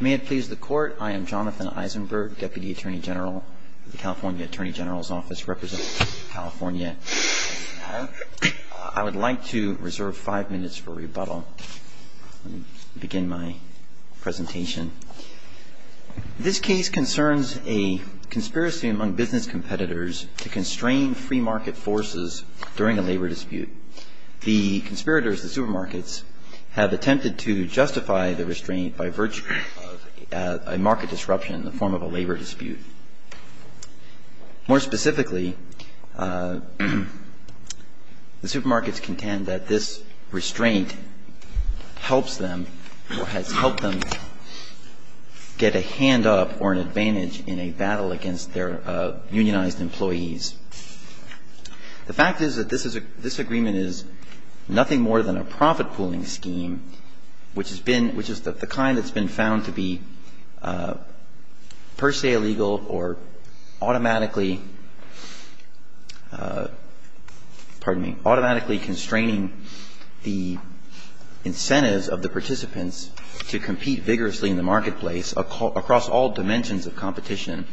May it please the court, I am Jonathan Eisenberg, Deputy Attorney General of the California Attorney General's Office, representing California. I would like to reserve five minutes for rebuttal. Let me begin my presentation. This case concerns a conspiracy among business competitors to constrain free market forces during a labor dispute. The conspirators, the supermarkets, have attempted to justify the restraint by virtue of a market disruption in the form of a labor dispute. More specifically, the supermarkets contend that this restraint helps them or has helped them get a hand up or an advantage in a battle against their unionized employees. The fact is that this is a – this agreement is nothing more than a profit pooling scheme, which has been – which is the kind that's been found to be per se illegal or automatically – pardon me – automatically constraining the incentives of the participants to compete vigorously in the marketplace across all dimensions of competition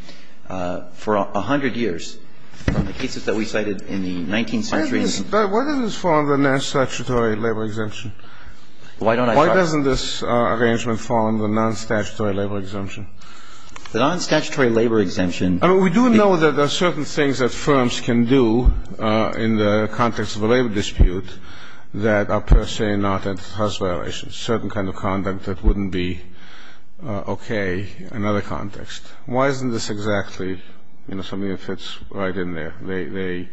for a hundred years. The cases that we cited in the 19th century – But why doesn't this fall under non-statutory labor exemption? Why don't I – Why doesn't this arrangement fall under non-statutory labor exemption? The non-statutory labor exemption – I mean, we do know that there are certain things that firms can do in the context of a labor dispute that are per se not entitled to house violations, certain kind of conduct that wouldn't be okay in other contexts. Why isn't this exactly, you know, something that fits right in there? The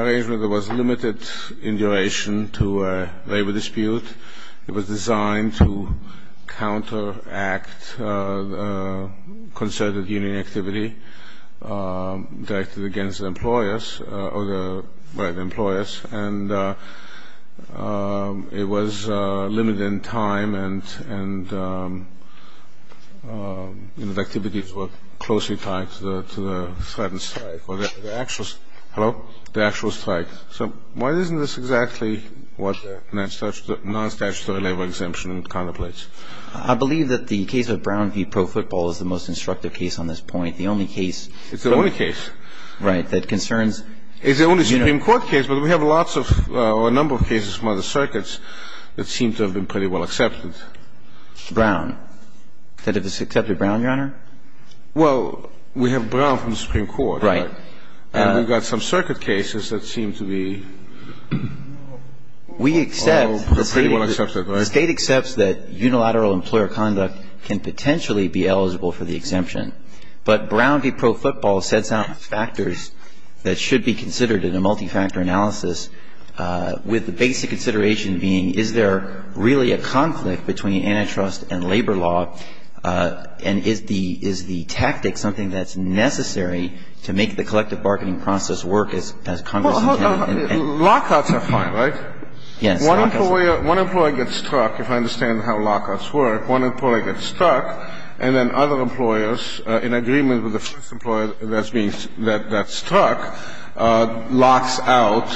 arrangement was limited in duration to a labor dispute. It was designed to counteract concerted union activity directed against the employers or the – by the employers. And it was limited in time, and, you know, the activities were closely tied to the threatened strike or the actual – hello? The actual strike. So why isn't this exactly what the non-statutory labor exemption contemplates? I believe that the case of Brown v. Pro Football is the most instructive case on this point. The only case – It's the only case. Right. That concerns – It's the only Supreme Court case, but we have lots of – or a number of cases from other circuits that seem to have been pretty well accepted. Brown. That it was accepted Brown, Your Honor? Well, we have Brown from the Supreme Court. Right. And we've got some circuit cases that seem to be – We accept – Pretty well accepted, right? The State accepts that unilateral employer conduct can potentially be eligible for the exemption, but Brown v. Pro Football sets out factors that should be considered in a multi-factor analysis with the basic consideration being is there really a conflict between antitrust and labor law, and is the tactic something that's necessary to make the collective bargaining process work as Congress intended? Lockouts are fine, right? Yes. One employer gets struck, if I understand how lockouts work. One employer gets struck, and then other employers, in agreement with the first employer that's struck, locks out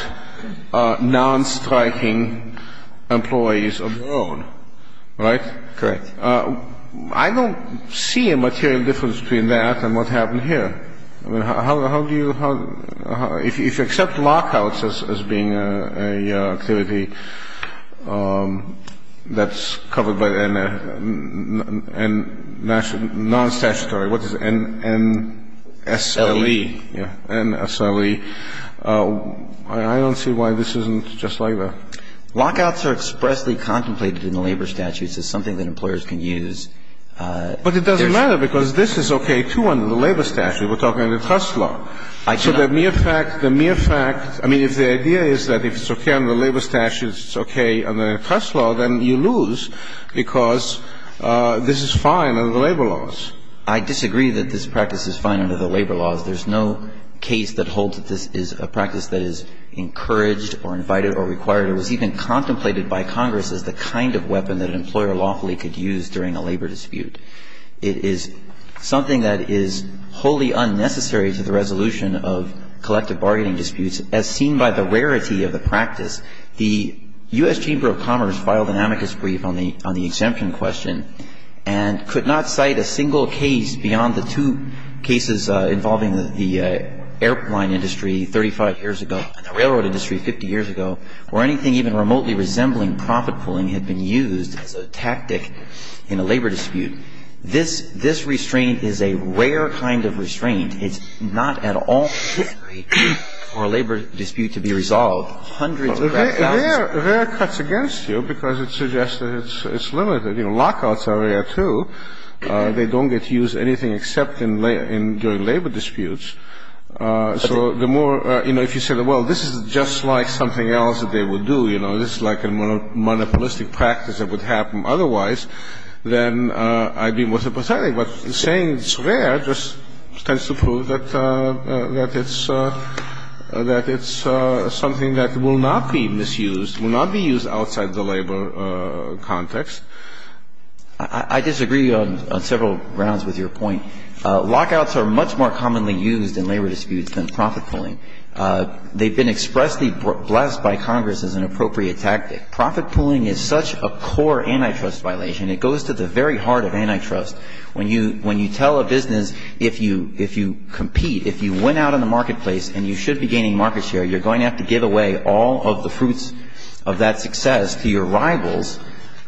non-striking employees of their own, right? Correct. I don't see a material difference between that and what happened here. I mean, how do you – if you accept lockouts as being an activity that's covered by a non-statutory – what is it? NSLE. NSLE. Yeah, NSLE. I don't see why this isn't just like that. Lockouts are expressly contemplated in the labor statutes as something that employers can use. But it doesn't matter, because this is okay, too, under the labor statute. We're talking antitrust law. So the mere fact – the mere fact – I mean, if the idea is that if it's okay under the labor statute, it's okay under antitrust law, then you lose, because this is fine under the labor laws. I disagree that this practice is fine under the labor laws. There's no case that holds that this is a practice that is encouraged or invited or required or was even contemplated by Congress as the kind of weapon that an employer lawfully could use during a labor dispute. It is something that is wholly unnecessary to the resolution of collective bargaining disputes, as seen by the rarity of the practice. The U.S. Chamber of Commerce filed an amicus brief on the exemption question and could not cite a single case beyond the two cases involving the airplane industry 35 years ago and the railroad industry 50 years ago, where anything even remotely resembling profit-pulling had been used as a tactic in a labor dispute. This – this restraint is a rare kind of restraint. It's not at all necessary for a labor dispute to be resolved. Hundreds – Rare cuts against you because it suggests that it's limited. You know, lockouts are rare, too. They don't get used anything except in – during labor disputes. So the more – you know, if you say, well, this is just like something else that they would do, you know, this is like a monopolistic practice that would happen otherwise, then I'd be more sympathetic. But saying it's rare just tends to prove that it's – that it's something that will not be misused, will not be used outside the labor context. I disagree on several grounds with your point. Lockouts are much more commonly used in labor disputes than profit-pulling. They've been expressly blessed by Congress as an appropriate tactic. Profit-pulling is such a core antitrust violation, it goes to the very heart of antitrust when you – when you tell a business if you – if you compete, if you went out in the marketplace and you should be gaining market share, you're going to have to give away all of the fruits of that success to your rivals.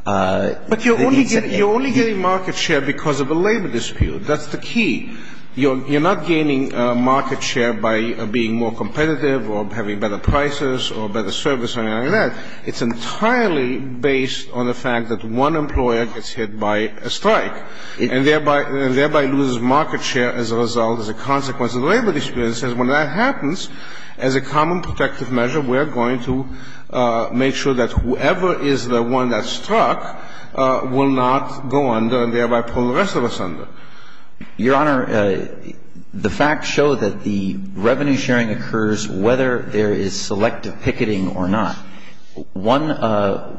But you're only getting – you're only getting market share because of a labor dispute. That's the key. You're not gaining market share by being more competitive or having better prices or better service or anything like that. It's entirely based on the fact that one employer gets hit by a strike. And thereby – and thereby loses market share as a result, as a consequence of the labor dispute. It says when that happens, as a common protective measure, we're going to make sure that whoever is the one that's struck will not go under and thereby pull the rest of us under. Your Honor, the facts show that the revenue sharing occurs whether there is selective picketing or not. One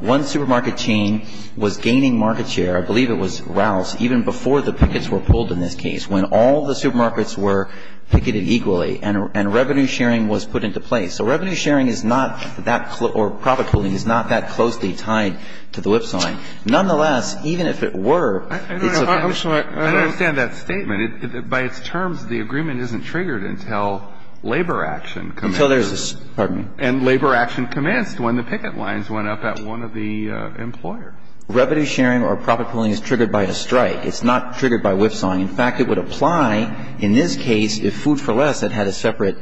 – one supermarket chain was gaining market share, I believe it was Ralph's, even before the pickets were pulled in this case, when all the supermarkets were picketed equally and revenue sharing was put into place. So revenue sharing is not that – or profit pooling is not that closely tied to the whip sign. Nonetheless, even if it were, it's a – I don't understand that statement. By its terms, the agreement isn't triggered until labor action comes in. Until there's a – pardon me. And labor action commenced when the picket lines went up at one of the employers. Revenue sharing or profit pooling is triggered by a strike. It's not triggered by whipsawing. In fact, it would apply in this case if Food for Less had had a separate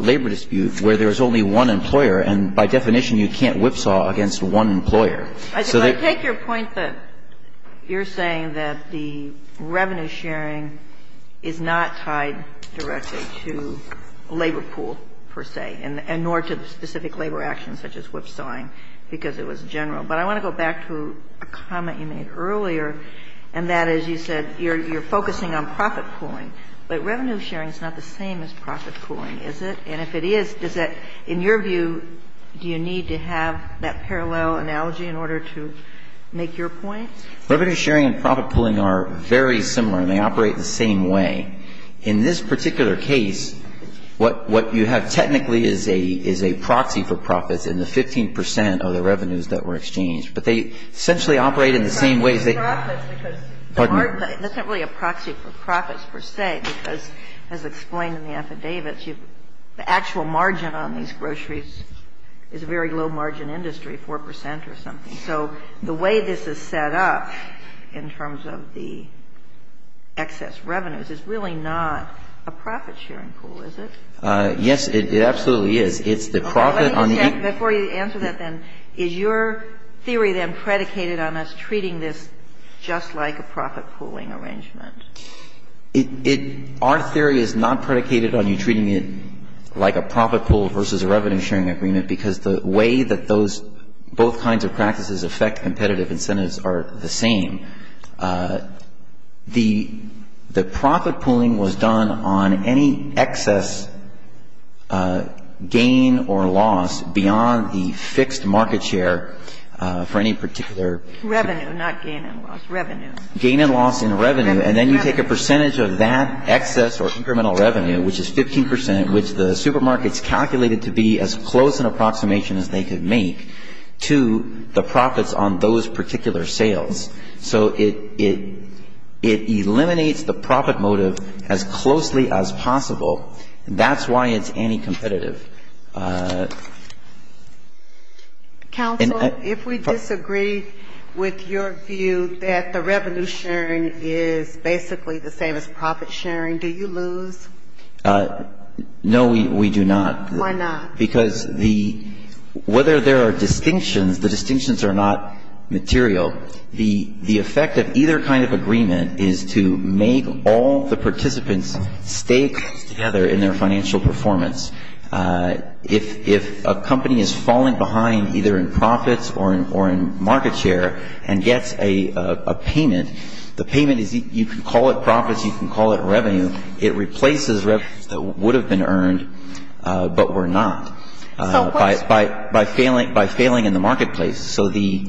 labor dispute where there was only one employer. And by definition, you can't whipsaw against one employer. So the – I take your point that you're saying that the revenue sharing is not tied directly to labor pool, per se, and nor to specific labor actions such as whipsawing, because it was general. But I want to go back to a comment you made earlier, and that is you said you're focusing on profit pooling. But revenue sharing is not the same as profit pooling, is it? And if it is, does that – in your view, do you need to have that parallel analogy in order to make your point? Revenue sharing and profit pooling are very similar, and they operate the same way. In this particular case, what you have technically is a proxy for profits in the 15 percent of the revenues that were exchanged. But they essentially operate in the same way as they – That's not really a proxy for profits, per se, because as explained in the affidavits, the actual margin on these groceries is a very low-margin industry, 4 percent or something. So the way this is set up in terms of the excess revenues is really not a profit sharing pool, is it? Yes, it absolutely is. It's the profit on the – Before you answer that, then, is your theory, then, predicated on us treating this just like a profit pooling arrangement? It – our theory is not predicated on you treating it like a profit pool versus a revenue sharing agreement because the way that those – both kinds of practices affect competitive incentives are the same. The profit pooling was done on any excess gain or loss beyond the fixed market share for any particular – Revenue, not gain and loss. Revenue. Gain and loss in revenue. And then you take a percentage of that excess or incremental revenue, which is 15 percent, which the supermarkets calculated to be as close an approximation as they could make to the profits on those particular sales. So it eliminates the profit motive as closely as possible. That's why it's anticompetitive. Counsel, if we disagree with your view that the revenue sharing is basically the same as profit sharing, do you lose? No, we do not. Why not? Because the – whether there are distinctions, the distinctions are not material. The effect of either kind of agreement is to make all the participants stay together in their financial performance. If a company is falling behind either in profits or in market share and gets a payment, you can call it profits, you can call it revenue. It replaces revenues that would have been earned but were not by failing in the marketplace. So the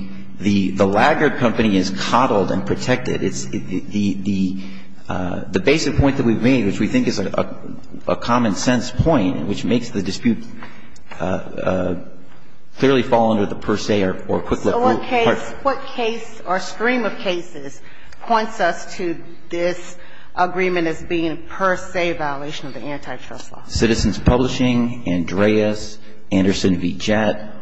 laggard company is coddled and protected. It's the basic point that we've made, which we think is a common-sense point, which makes the dispute clearly fall under the per se or quick look rule. What case or stream of cases points us to this agreement as being per se a violation of the antitrust law? Citizens Publishing, Andreas, Anderson v. Jett,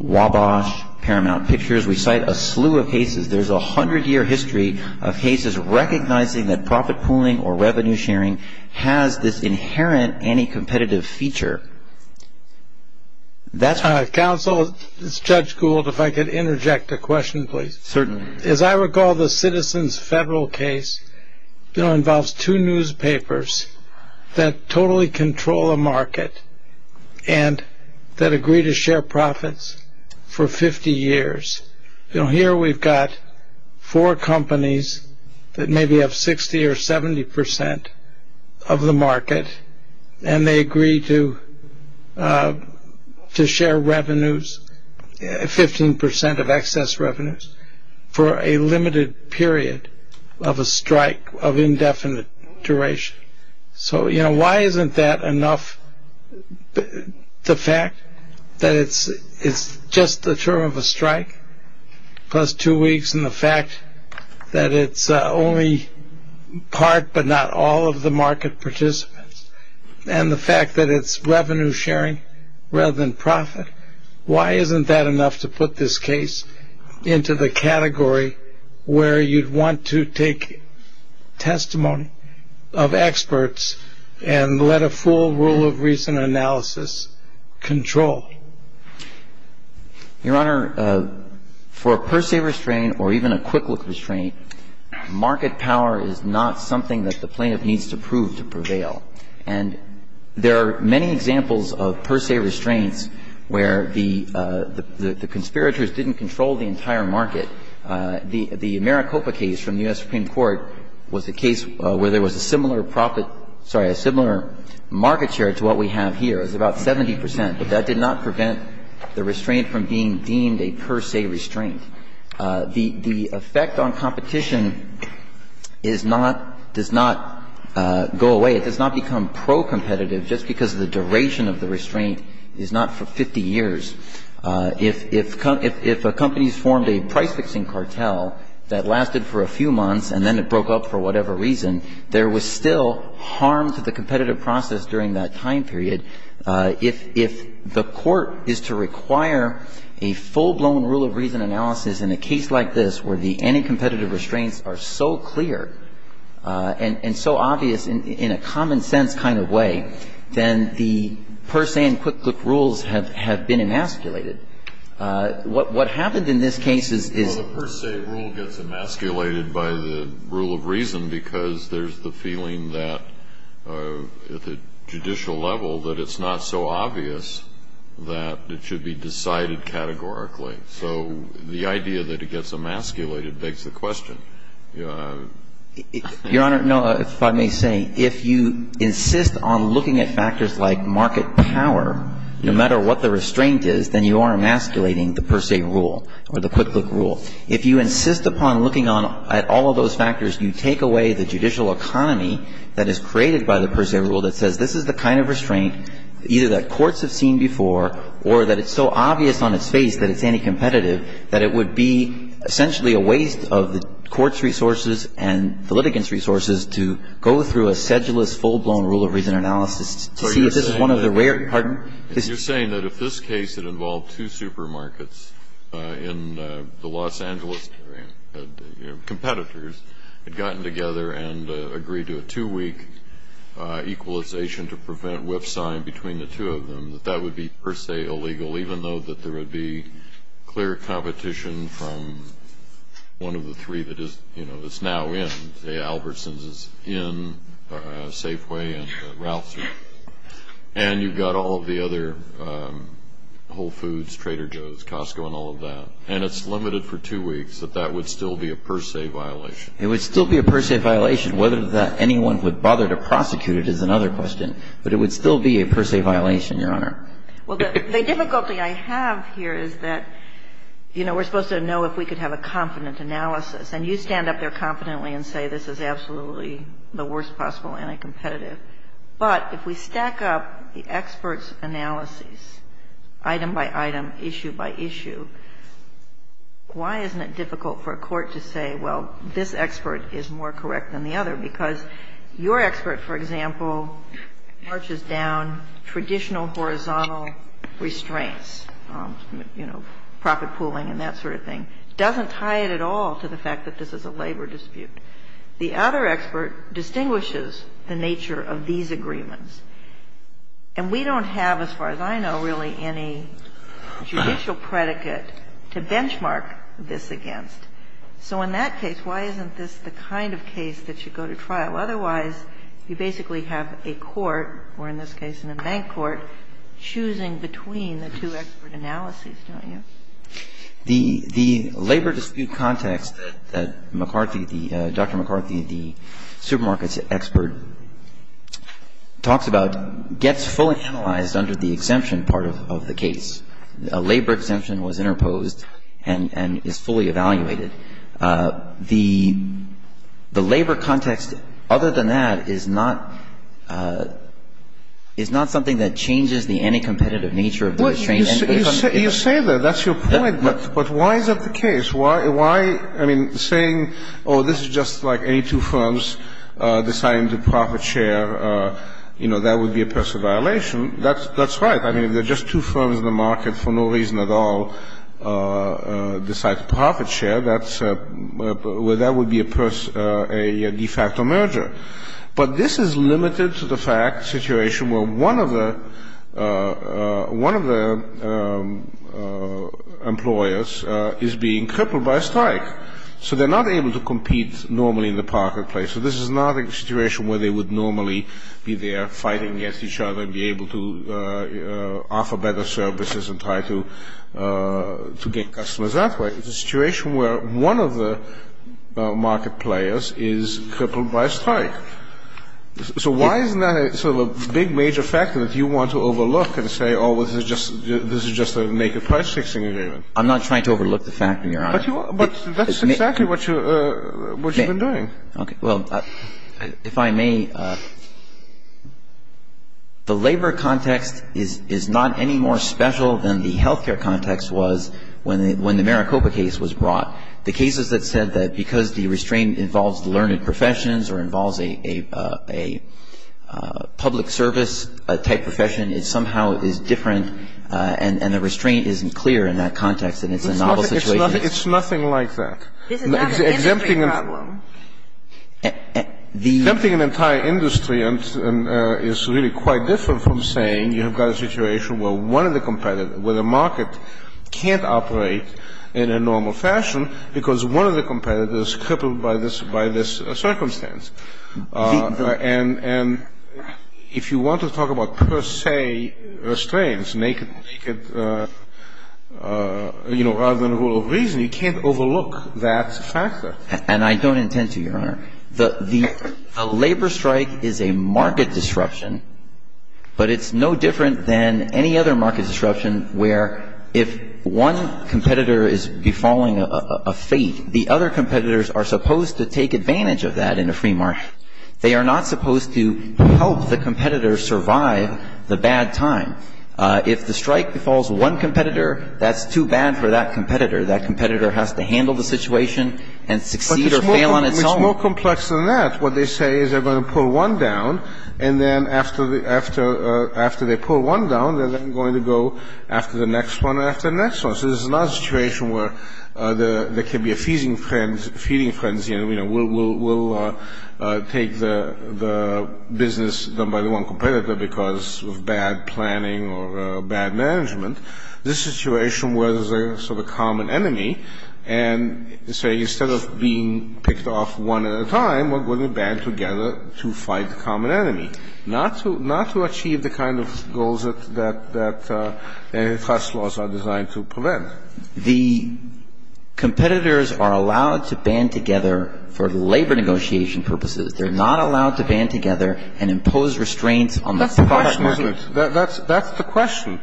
Wabash, Paramount Pictures. We cite a slew of cases. There's a hundred-year history of cases recognizing that profit pooling or revenue sharing has this inherent anticompetitive feature. Counsel, this is Judge Gould. If I could interject a question, please. Certainly. As I recall, the Citizens Federal case involves two newspapers that totally control the market and that agree to share profits for 50 years. Here we've got four companies that maybe have 60 or 70 percent of the market and they agree to share revenues, 15 percent of excess revenues, for a limited period of a strike of indefinite duration. So, you know, why isn't that enough? The fact that it's just the term of a strike plus two weeks and the fact that it's only part but not all of the market participants and the fact that it's revenue sharing rather than profit, why isn't that enough to put this case into the category where you'd want to take testimony of experts and let a full rule of reason analysis control? Your Honor, for a per se restraint or even a quick look restraint, market power is not something that the plaintiff needs to prove to prevail. And there are many examples of per se restraints where the conspirators didn't control the entire market. The Maricopa case from the U.S. Supreme Court was a case where there was a similar profit sorry, a similar market share to what we have here. It was about 70 percent, but that did not prevent the restraint from being deemed a per se restraint. The effect on competition is not, does not go away. It does not become pro-competitive just because the duration of the restraint is not for 50 years. If a company's formed a price-fixing cartel that lasted for a few months and then it broke up for whatever reason, there was still harm to the competitive process during that time period. If the court is to require a full-blown rule of reason analysis in a case like this where the anti-competitive restraints are so clear and so obvious in a common sense kind of way, then the per se and quick look rules have been emasculated. What happened in this case is the per se rule gets emasculated by the rule of reason because there's the feeling that at the judicial level that it's not so obvious that it should be decided categorically. So the idea that it gets emasculated begs the question. Your Honor, no, if I may say, if you insist on looking at factors like market power, no matter what the restraint is, then you are emasculating the per se rule or the quick look rule. If you insist upon looking at all of those factors, you take away the judicial economy that is created by the per se rule that says this is the kind of restraint either that courts have seen before or that it's so obvious on its face that it's anti-competitive that it would be essentially a waste of the court's resources and the litigants' resources to go through a sedulous, full-blown rule of reason analysis to see if this is one of the rare – pardon? You're saying that if this case had involved two supermarkets in the Los Angeles area, competitors had gotten together and agreed to a two-week equalization to prevent whipsawing between the two of them, that that would be per se illegal, even though that there would be clear competition from one of the three that is now in, say, Albertson's is in Safeway and Ralph's. And you've got all of the other Whole Foods, Trader Joe's, Costco and all of that. And it's limited for two weeks that that would still be a per se violation. It would still be a per se violation. Whether that anyone would bother to prosecute it is another question. But it would still be a per se violation, Your Honor. Well, the difficulty I have here is that, you know, we're supposed to know if we could have a confident analysis. And you stand up there confidently and say this is absolutely the worst possible anti-competitive. But if we stack up the experts' analyses, item by item, issue by issue, why isn't it difficult for a court to say, well, this expert is more correct than the other? Because your expert, for example, marches down traditional horizontal restraints, you know, profit pooling and that sort of thing. Doesn't tie it at all to the fact that this is a labor dispute. The other expert distinguishes the nature of these agreements. And we don't have, as far as I know, really any judicial predicate to benchmark this against. So in that case, why isn't this the kind of case that should go to trial? Otherwise, you basically have a court, or in this case a bank court, choosing between the two expert analyses, don't you? The labor dispute context that McCarthy, the Dr. McCarthy, the supermarkets expert, talks about gets fully analyzed under the exemption part of the case. A labor exemption was interposed and is fully evaluated. The labor context, other than that, is not something that changes the anti-competitive nature of the restraints. You say that. That's your point. But why is that the case? Why, I mean, saying, oh, this is just like any two firms deciding to profit share, you know, that would be a personal violation. That's right. I mean, if there are just two firms in the market for no reason at all decide to profit share, that's where that would be a de facto merger. But this is limited to the fact, situation where one of the employers is being crippled by a strike. So they're not able to compete normally in the marketplace. So this is not a situation where they would normally be there fighting against each other and be able to offer better services and try to get customers that way. It's a situation where one of the market players is crippled by a strike. So why isn't that sort of a big major factor that you want to overlook and say, oh, this is just a naked price fixing agreement? I'm not trying to overlook the fact, Your Honor. But that's exactly what you've been doing. Okay. Well, if I may, the labor context is not any more special than the health care context was when the Maricopa case was brought. The cases that said that because the restraint involves learned professions or involves a public service type profession, it somehow is different and the restraint isn't clear in that context and it's a novel situation. It's nothing like that. This is not an industry problem. Exempting an entire industry is really quite different from saying you have got a situation where the market can't operate in a normal fashion because one of the competitors is crippled by this circumstance. And if you want to talk about per se restraints, naked, you know, rather than rule of reason, you can't overlook that factor. And I don't intend to, Your Honor. The labor strike is a market disruption, but it's no different than any other market disruption where if one competitor is befalling a fate, the other competitors are supposed to take advantage of that in a free market. They are not supposed to help the competitors survive the bad time. If the strike befalls one competitor, that's too bad for that competitor. That competitor has to handle the situation and succeed or fail on its own. It's more complex than that. What they say is they are going to pull one down and then after they pull one down, they are then going to go after the next one and after the next one. So this is not a situation where there can be a feeding frenzy and, you know, we'll take the business done by the one competitor because of bad planning or bad management. This situation where there is a sort of common enemy and, say, instead of being picked off one at a time, we are going to band together to fight the common enemy, not to achieve the kind of goals that antitrust laws are designed to prevent. The competitors are allowed to band together for labor negotiation purposes. They are not allowed to band together and impose restraints on the product. That's the question, isn't it? That's the question.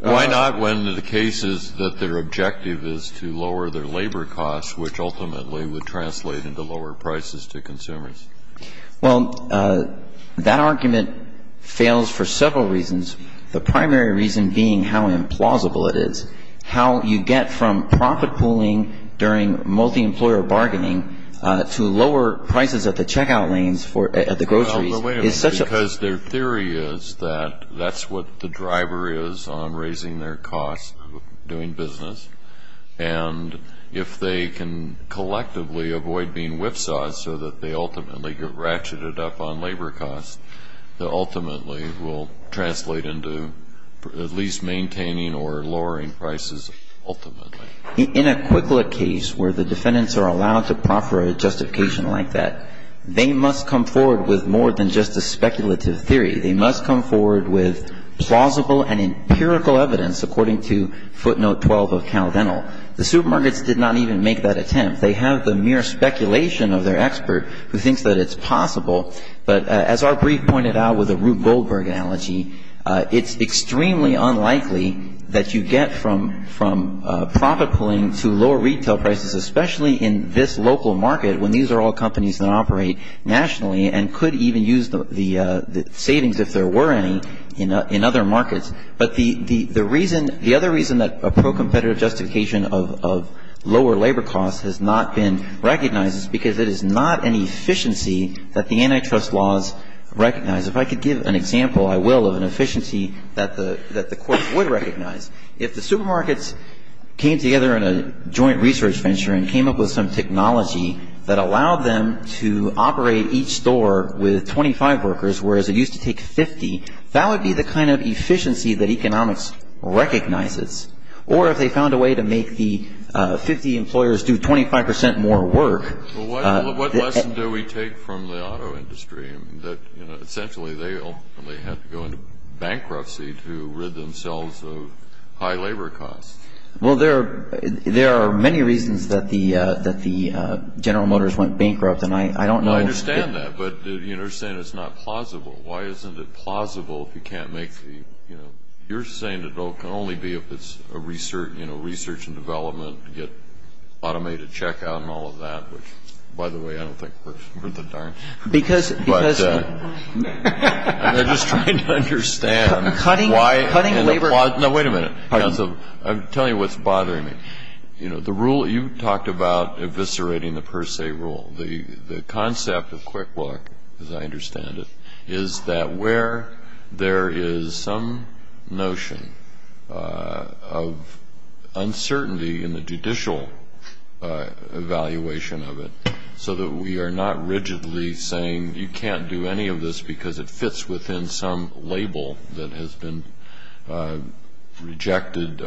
Why not when the case is that their objective is to lower their labor costs, which ultimately would translate into lower prices to consumers? Well, that argument fails for several reasons, the primary reason being how implausible it is. How you get from profit pooling during multi-employer bargaining to lower prices at the checkout lanes at the groceries is such a- No, wait a minute, because their theory is that that's what the driver is on raising their costs doing business, and if they can collectively avoid being whipsawed so that they ultimately get ratcheted up on labor costs, that ultimately will translate into at least maintaining or lowering prices ultimately. In a quick lit case where the defendants are allowed to proffer a justification like that, they must come forward with more than just a speculative theory. They must come forward with plausible and empirical evidence according to footnote 12 of CalDental. The supermarkets did not even make that attempt. They have the mere speculation of their expert who thinks that it's possible, but as our brief pointed out with the Rube Goldberg analogy, it's extremely unlikely that you get from profit pooling to lower retail prices, especially in this local market when these are all companies that operate nationally and could even use the savings if there were any in other markets. But the other reason that a pro-competitive justification of lower labor costs has not been recognized is because it is not an efficiency that the antitrust laws recognize. If I could give an example, I will, of an efficiency that the courts would recognize. If the supermarkets came together in a joint research venture and came up with some technology that allowed them to operate each store with 25 workers whereas it used to take 50, that would be the kind of efficiency that economics recognizes. Or if they found a way to make the 50 employers do 25% more work. Well, what lesson do we take from the auto industry that, you know, Well, there are many reasons that the General Motors went bankrupt, and I don't know if No, I understand that, but you're saying it's not plausible. Why isn't it plausible if you can't make the, you know, you're saying it can only be if it's a research, you know, research and development, get automated checkout and all of that, which, by the way, I don't think works worth a darn. Because And they're just trying to understand why Cutting labor No, wait a minute. I'm telling you what's bothering me. You know, the rule, you talked about eviscerating the per se rule. The concept of Quick Look, as I understand it, is that where there is some notion of uncertainty in the judicial evaluation of it so that we are not rigidly saying you can't do any of this because it fits within some label that has been rejected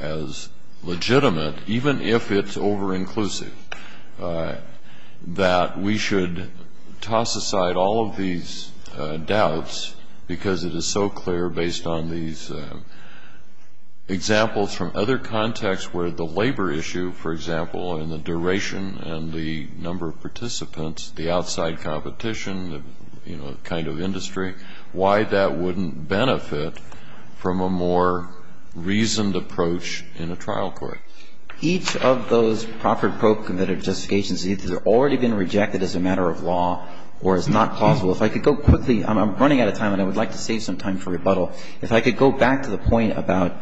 as legitimate, even if it's over-inclusive, that we should toss aside all of these doubts because it is so clear based on these examples from other contexts where the labor issue, for example, and the duration and the number of participants, the outside competition, you know, the kind of industry, why that wouldn't benefit from a more reasoned approach in a trial court. Each of those proffered probe committed justifications has already been rejected as a matter of law or is not plausible. If I could go quickly. I'm running out of time, and I would like to save some time for rebuttal. If I could go back to the point about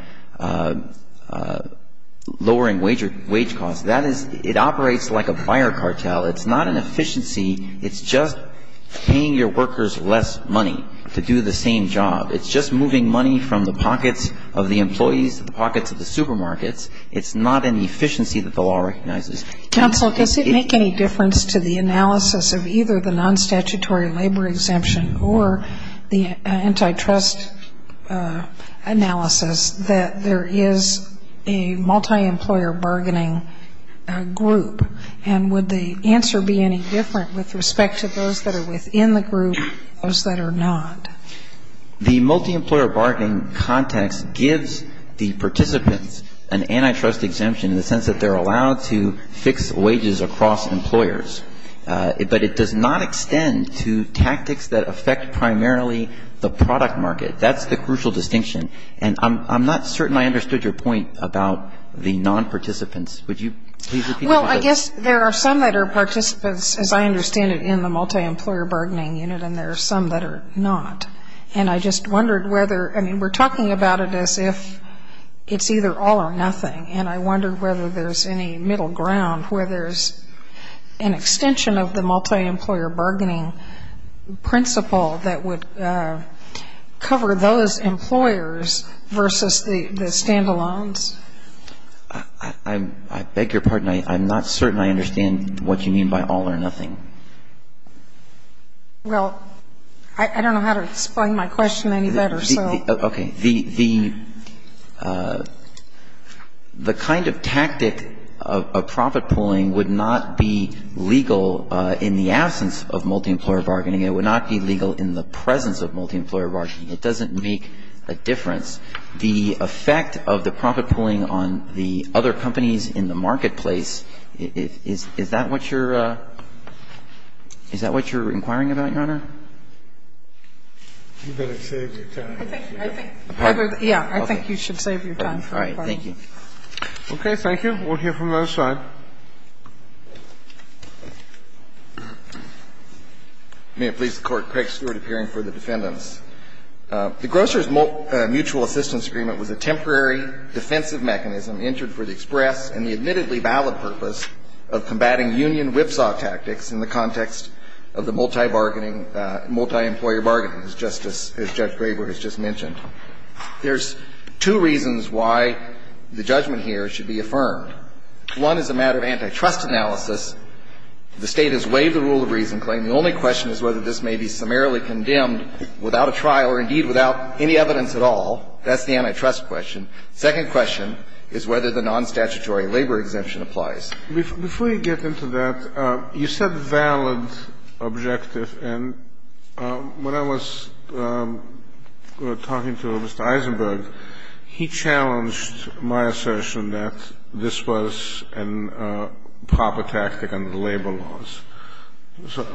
lowering wage costs. That is, it operates like a fire cartel. It's not an efficiency. It's just paying your workers less money to do the same job. It's just moving money from the pockets of the employees to the pockets of the supermarkets. It's not an efficiency that the law recognizes. Counsel, does it make any difference to the analysis of either the non-statutory labor exemption or the antitrust analysis that there is a multi-employer bargaining group? And would the answer be any different with respect to those that are within the group, those that are not? The multi-employer bargaining context gives the participants an antitrust exemption in the sense that they're allowed to fix wages across employers. But it does not extend to tactics that affect primarily the product market. That's the crucial distinction. And I'm not certain I understood your point about the non-participants. Would you please repeat that? Well, I guess there are some that are participants, as I understand it, in the multi-employer bargaining unit, and there are some that are not. And I just wondered whether we're talking about it as if it's either all or nothing. And I wondered whether there's any middle ground where there's an extension of the multi-employer bargaining principle that would cover those employers versus the standalones. I beg your pardon. I'm not certain I understand what you mean by all or nothing. Well, I don't know how to explain my question any better. The kind of tactic of profit pooling would not be legal in the absence of multi-employer bargaining. It would not be legal in the presence of multi-employer bargaining. It doesn't make a difference. The effect of the profit pooling on the other companies in the marketplace, I don't know. You better save your time. I think you should save your time. All right. Thank you. Okay. Thank you. We'll hear from the other side. May it please the Court. Craig Stewart, appearing for the defendants. The Grocers Mutual Assistance Agreement was a temporary defensive mechanism entered for the express and the admittedly valid purpose of combating union whipsaw tactics in the context of the multi bargaining, multi-employer bargaining, as Justice, as Judge Graber has just mentioned. There's two reasons why the judgment here should be affirmed. One is a matter of antitrust analysis. The State has waived the rule of reason claim. The only question is whether this may be summarily condemned without a trial or, indeed, without any evidence at all. That's the antitrust question. Second question is whether the nonstatutory labor exemption applies. Before you get into that, you said valid objective. And when I was talking to Mr. Eisenberg, he challenged my assertion that this was a proper tactic under the labor laws. So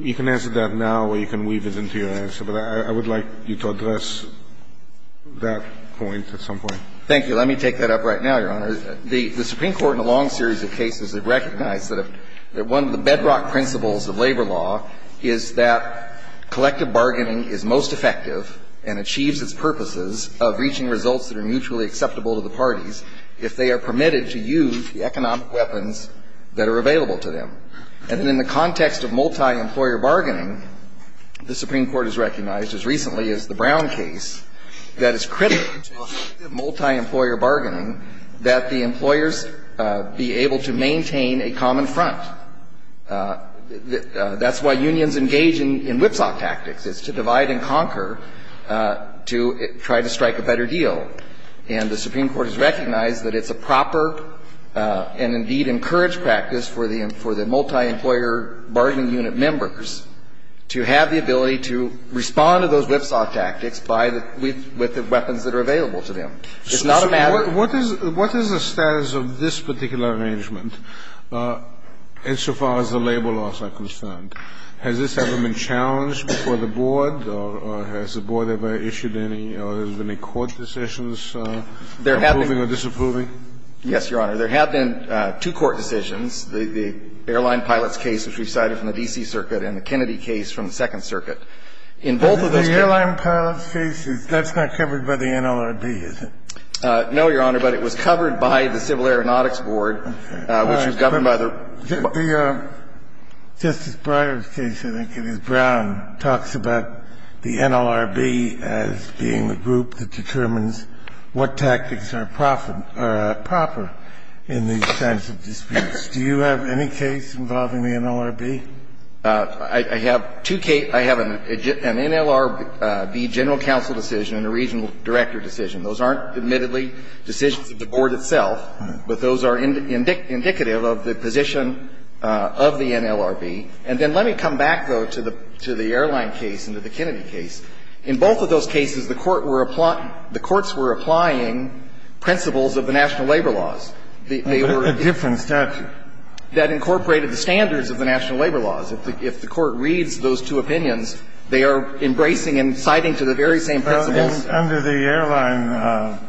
you can answer that now or you can weave it into your answer. But I would like you to address that point at some point. Thank you. Let me take that up right now, Your Honor. The Supreme Court in a long series of cases has recognized that one of the bedrock principles of labor law is that collective bargaining is most effective and achieves its purposes of reaching results that are mutually acceptable to the parties if they are permitted to use the economic weapons that are available to them. And in the context of multi-employer bargaining, the Supreme Court has recognized as recently as the Brown case that it's critical to effective multi-employer bargaining that the employers be able to maintain a common front. That's why unions engage in whipsaw tactics. It's to divide and conquer to try to strike a better deal. And the Supreme Court has recognized that it's a proper and, indeed, encouraged practice for the multi-employer bargaining unit members to have the ability to respond to those whipsaw tactics with the weapons that are available to them. It's not a matter of ---- Kennedy, in action, what is the status of this particular arrangement insofar as the labor laws are concerned? Has this ever been challenged before the board? Or has the board ever issued any of the most courts decisions approving or disapproving? Yes, Your Honor. There have been two court decisions, the airline pilots case which we cited from the D.C. Circuit, and the Kennedy case from the Second Circuit. In both of those cases ---- No, Your Honor, but it was covered by the Civil Aeronautics Board, which was governed by the ---- Justice Breyer's case, I think it is Brown, talks about the NLRB as being the group that determines what tactics are proper in these kinds of disputes. Do you have any case involving the NLRB? I have two cases. I have an NLRB general counsel decision and a regional director decision. Those aren't, admittedly, decisions of the board itself, but those are indicative of the position of the NLRB. And then let me come back, though, to the airline case and to the Kennedy case. In both of those cases, the court were ---- the courts were applying principles of the national labor laws. They were ---- But a different statute. That incorporated the standards of the national labor laws. If the court reads those two opinions, they are embracing and citing to the very same principles. Under the airline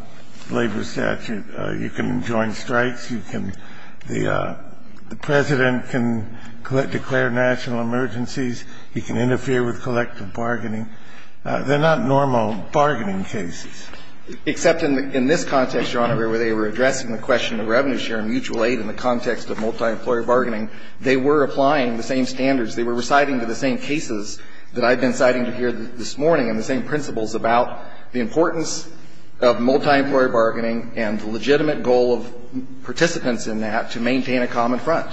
labor statute, you can join strikes, you can ---- the President can declare national emergencies, he can interfere with collective bargaining. They're not normal bargaining cases. Except in this context, Your Honor, where they were addressing the question of revenue share and mutual aid in the context of multi-employer bargaining, they were applying the same standards. They were reciting to the same cases that I've been citing to here this morning and the same principles about the importance of multi-employer bargaining and the legitimate goal of participants in that to maintain a common front.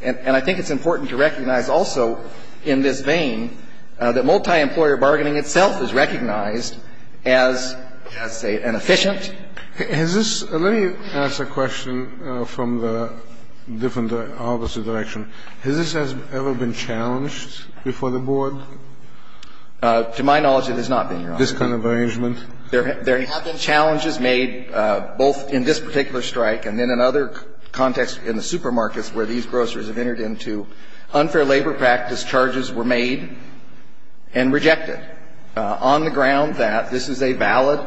And I think it's important to recognize also in this vein that multi-employer bargaining itself is recognized as, say, an efficient ---- Has this ---- let me ask a question from the different, the opposite direction. Has this ever been challenged before the board? To my knowledge, it has not been, Your Honor. This kind of arrangement? There have been challenges made both in this particular strike and then in other contexts in the supermarkets where these grocers have entered into. Unfair labor practice charges were made and rejected on the ground that this is a valid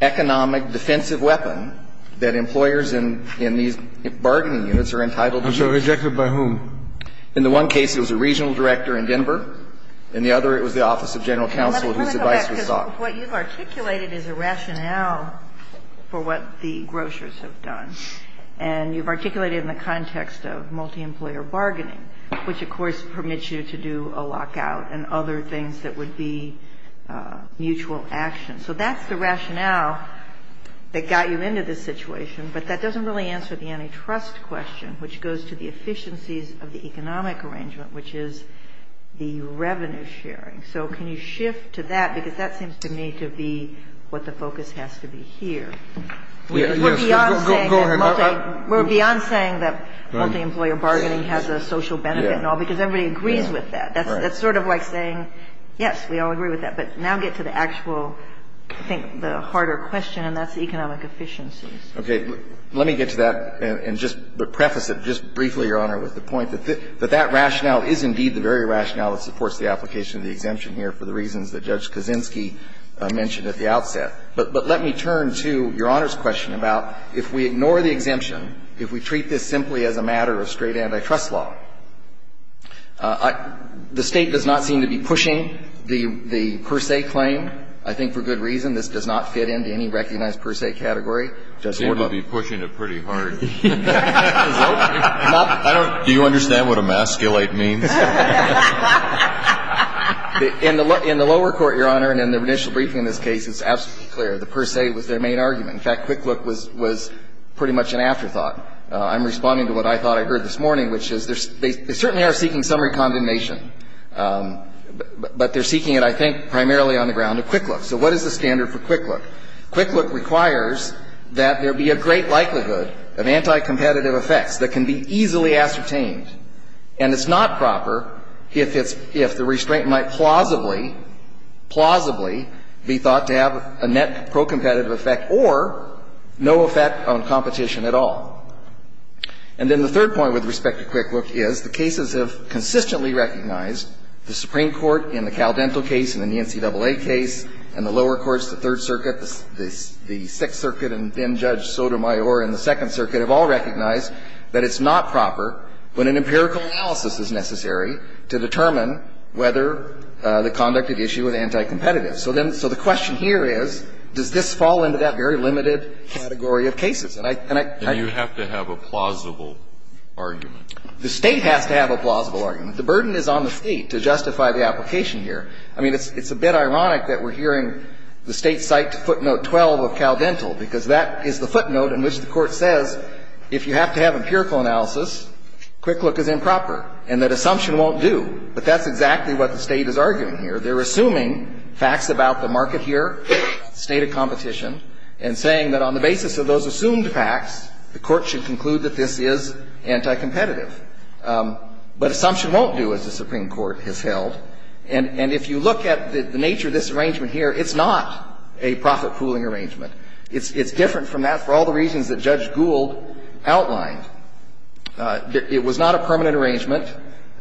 economic defensive weapon that employers in these bargaining units are entitled to use. And so rejected by whom? In the one case, it was a regional director in Denver. In the other, it was the Office of General Counsel whose advice was sought. Well, let me come back, because what you've articulated is a rationale for what the grocers have done. And you've articulated in the context of multi-employer bargaining, which, of course, permits you to do a lockout and other things that would be mutual action. So that's the rationale that got you into this situation. But that doesn't really answer the antitrust question, which goes to the efficiencies of the economic arrangement, which is the revenue sharing. So can you shift to that? Because that seems to me to be what the focus has to be here. Yes. Go ahead. We're beyond saying that multi-employer bargaining has a social benefit and all, because everybody agrees with that. That's sort of like saying, yes, we all agree with that. But now get to the actual, I think, the harder question, and that's economic efficiencies. Okay. Let me get to that and just preface it just briefly, Your Honor, with the point that that rationale is indeed the very rationale that supports the application of the exemption here for the reasons that Judge Kaczynski mentioned at the outset. But let me turn to Your Honor's question about if we ignore the exemption, if we treat this simply as a matter of straight antitrust law, the State does not seem to be pushing the per se claim. I think for good reason. This does not fit into any recognized per se category. It seems to be pushing it pretty hard. I don't do you understand what emasculate means? In the lower court, Your Honor, and in the initial briefing in this case, it's absolutely clear the per se was their main argument. In fact, Quick Look was pretty much an afterthought. I'm responding to what I thought I heard this morning, which is they certainly are seeking summary condemnation. But they're seeking it, I think, primarily on the ground of Quick Look. So what is the standard for Quick Look? Quick Look requires that there be a great likelihood of anticompetitive effects that can be easily ascertained. And it's not proper if it's the restraint might plausibly, plausibly be thought to have a net procompetitive effect or no effect on competition at all. And then the third point with respect to Quick Look is the cases have consistently recognized the Supreme Court in the Caldental case, in the NCAA case, in the lower courts, the Third Circuit, the Sixth Circuit, and then Judge Sotomayor in the Second Circuit have all recognized that it's not proper when an empirical analysis is necessary to determine whether the conduct at issue is anticompetitive. So then the question here is, does this fall into that very limited category of cases? And I can't do that. And you have to have a plausible argument. The State has to have a plausible argument. The burden is on the State to justify the application here. I mean, it's a bit ironic that we're hearing the State cite footnote 12 of Caldental, because that is the footnote in which the Court says if you have to have empirical analysis, Quick Look is improper, and that assumption won't do. But that's exactly what the State is arguing here. They're assuming facts about the market here, state of competition, and saying that on the basis of those assumed facts, the Court should conclude that this is anticompetitive. But assumption won't do, as the Supreme Court has held. And if you look at the nature of this arrangement here, it's not a profit pooling arrangement. It's different from that for all the reasons that Judge Gould outlined. It was not a permanent arrangement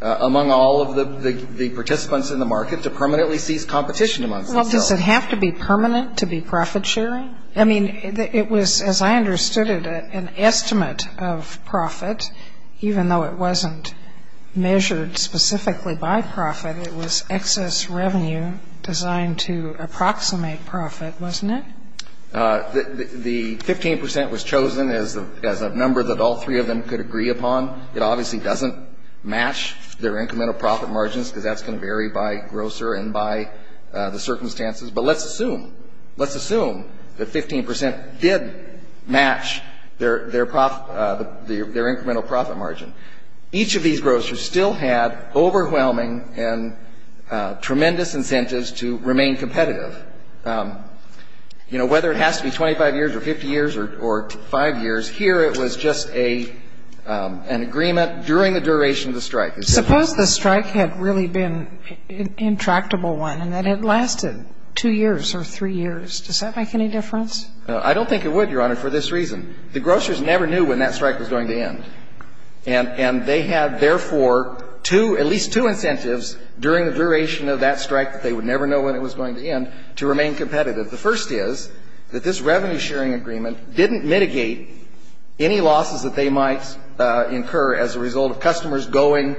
among all of the participants in the market to permanently cease competition amongst themselves. Well, does it have to be permanent to be profit-sharing? I mean, it was, as I understood it, an estimate of profit, even though it wasn't measured specifically by profit. It was excess revenue designed to approximate profit, wasn't it? The 15 percent was chosen as a number that all three of them could agree upon. It obviously doesn't match their incremental profit margins, because that's going to vary by grocer and by the circumstances. But let's assume, let's assume that 15 percent did match their profit, their incremental profit margin. Each of these grocers still had overwhelming and tremendous incentives to remain competitive. You know, whether it has to be 25 years or 50 years or 5 years, here it was just an agreement during the duration of the strike. Suppose the strike had really been an intractable one and that it lasted 2 years or 3 years. Does that make any difference? I don't think it would, Your Honor, for this reason. The grocers never knew when that strike was going to end. And they had, therefore, two, at least two incentives during the duration of that strike that they would never know when it was going to end to remain competitive. The first is that this revenue sharing agreement didn't mitigate any losses that they might incur as a result of customers going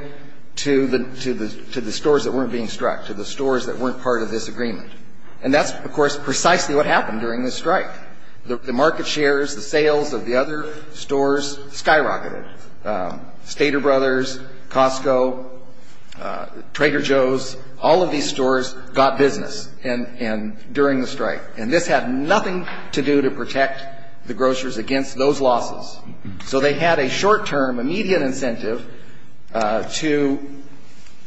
to the stores that weren't being struck, to the stores that weren't part of this agreement. And that's, of course, precisely what happened during this strike. The market shares, the sales of the other stores skyrocketed. Stater Brothers, Costco, Trader Joe's, all of these stores got business during the strike. And this had nothing to do to protect the grocers against those losses. So they had a short-term, a median incentive to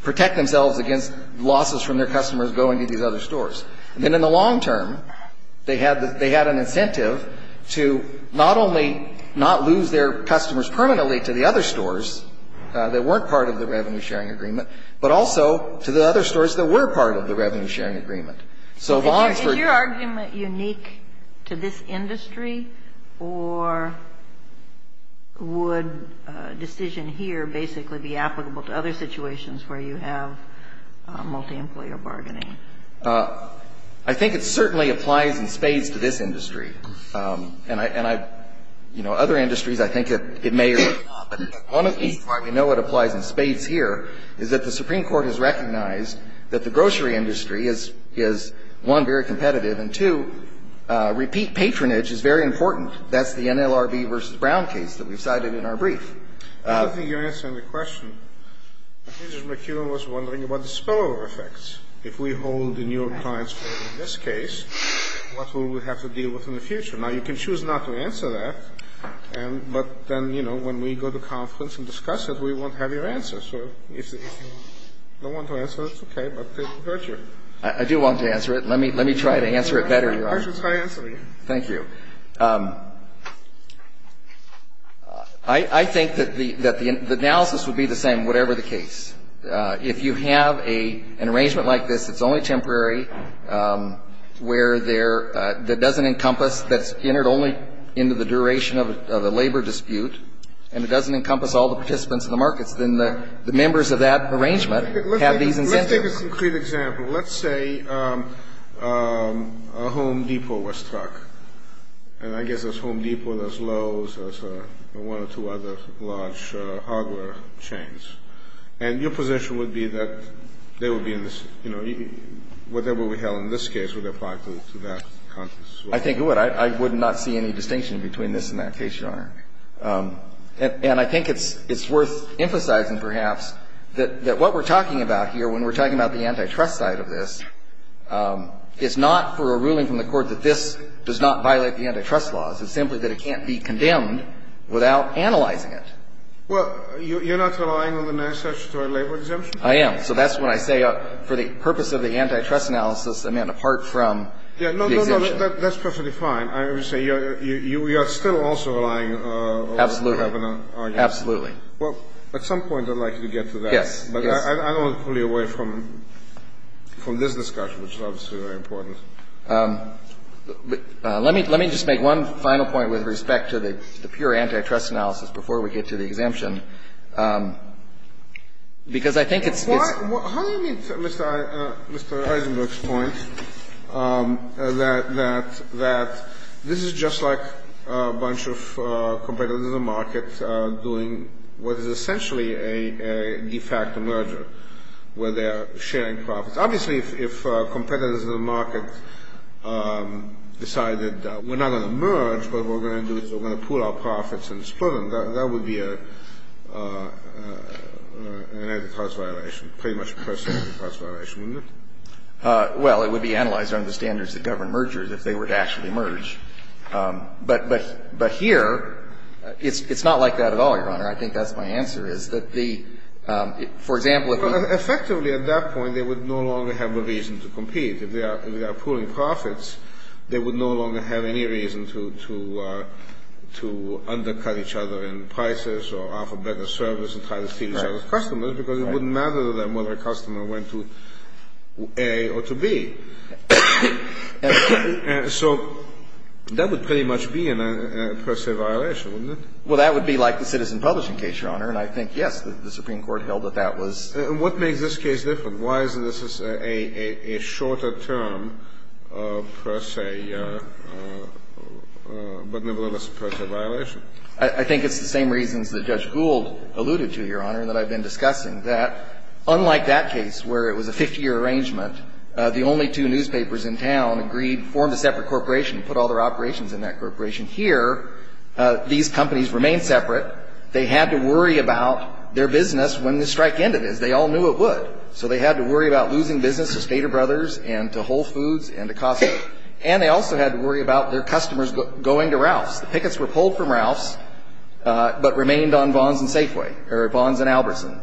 protect themselves against losses from their customers going to these other stores. And then in the long term, they had an incentive to not only not lose their customers permanently to the other stores that weren't part of the revenue sharing agreement, but also to the other stores that were part of the revenue sharing agreement. So if I'm honest with you Is your argument unique to this industry or would a decision here basically be applicable to other situations where you have multi-employer bargaining? I think it certainly applies in spades to this industry. And other industries, I think it may or may not. But one of the reasons why we know it applies in spades here is that the Supreme Court has recognized that the grocery industry is, one, very competitive. And two, repeat patronage is very important. That's the NLRB versus Brown case that we've cited in our brief. I don't think you're answering the question. Mr. McEwen was wondering about the spillover effects. If we hold the New York Times case in this case, what will we have to deal with in the future? Now, you can choose not to answer that, but then, you know, when we go to conference and discuss it, we won't have your answer. So if you don't want to answer it, it's okay, but it hurts you. I do want to answer it. Let me try to answer it better. I should try answering it. Thank you. I think that the analysis would be the same, whatever the case. If you have an arrangement like this, it's only temporary, where there doesn't encompass, that's entered only into the duration of a labor dispute, and it doesn't encompass all the participants in the markets, then the members of that arrangement have these incentives. Let's take a concrete example. Let's say a Home Depot was struck, and I guess there's Home Depot, there's Lowe's, there's one or two other large hardware chains, and your position would be that they would be in this, you know, whatever we have in this case would apply to that conference. I think it would. I would not see any distinction between this and that case, Your Honor, and I think it's worth emphasizing, perhaps, that what we're talking about here, when we're talking about the anti-trust side of this, it's not for a ruling from the Court that this does not violate the anti-trust laws. It's simply that it can't be condemned without analyzing it. Well, you're not relying on the Massachusetts labor exemption? I am. So that's when I say for the purpose of the anti-trust analysis, I mean, apart from the exemption. No, no, no, that's perfectly fine. I would say you are still also relying on the Lebanon argument. Absolutely. Absolutely. Well, at some point, I'd like you to get to that. Yes. But I don't want to pull you away from this discussion, which is obviously very important. Let me just make one final point with respect to the pure anti-trust analysis before we get to the exemption, because I think it's — How do you meet Mr. Eisenberg's point that this is just like a bunch of competitors in the market doing what is essentially a de facto merger, where they are sharing profits? Obviously, if competitors in the market decided we're not going to merge, what we're going to do is we're going to pool our profits and split them, that would be an anti-trust violation, pretty much a personal anti-trust violation, wouldn't it? Well, it would be analyzed under the standards that govern mergers if they were to actually merge. But here, it's not like that at all, Your Honor. I think that's my answer, is that the — for example, if — Effectively, at that point, they would no longer have a reason to compete. If they are pooling profits, they would no longer have any reason to undercut each other in prices or offer better service and try to steal each other's customers, because it wouldn't matter to them whether a customer went to A or to B. So that would pretty much be a per se violation, wouldn't it? Well, that would be like the Citizen Publishing case, Your Honor, and I think, yes, the Supreme Court held that that was — And what makes this case different? Why is this a shorter term per se, but nevertheless a per se violation? I think it's the same reasons that Judge Gould alluded to, Your Honor, and that I've been discussing, that unlike that case where it was a 50-year arrangement, the only two newspapers in town agreed — formed a separate corporation and put all their operations in that corporation. Here, these companies remained separate. They had to worry about their business when the strike ended, as they all knew it would. So they had to worry about losing business to Stater Brothers and to Whole Foods and to Costco. And they also had to worry about their customers going to Ralph's. The pickets were pulled from Ralph's but remained on Vons and Safeway or Vons and Albertson.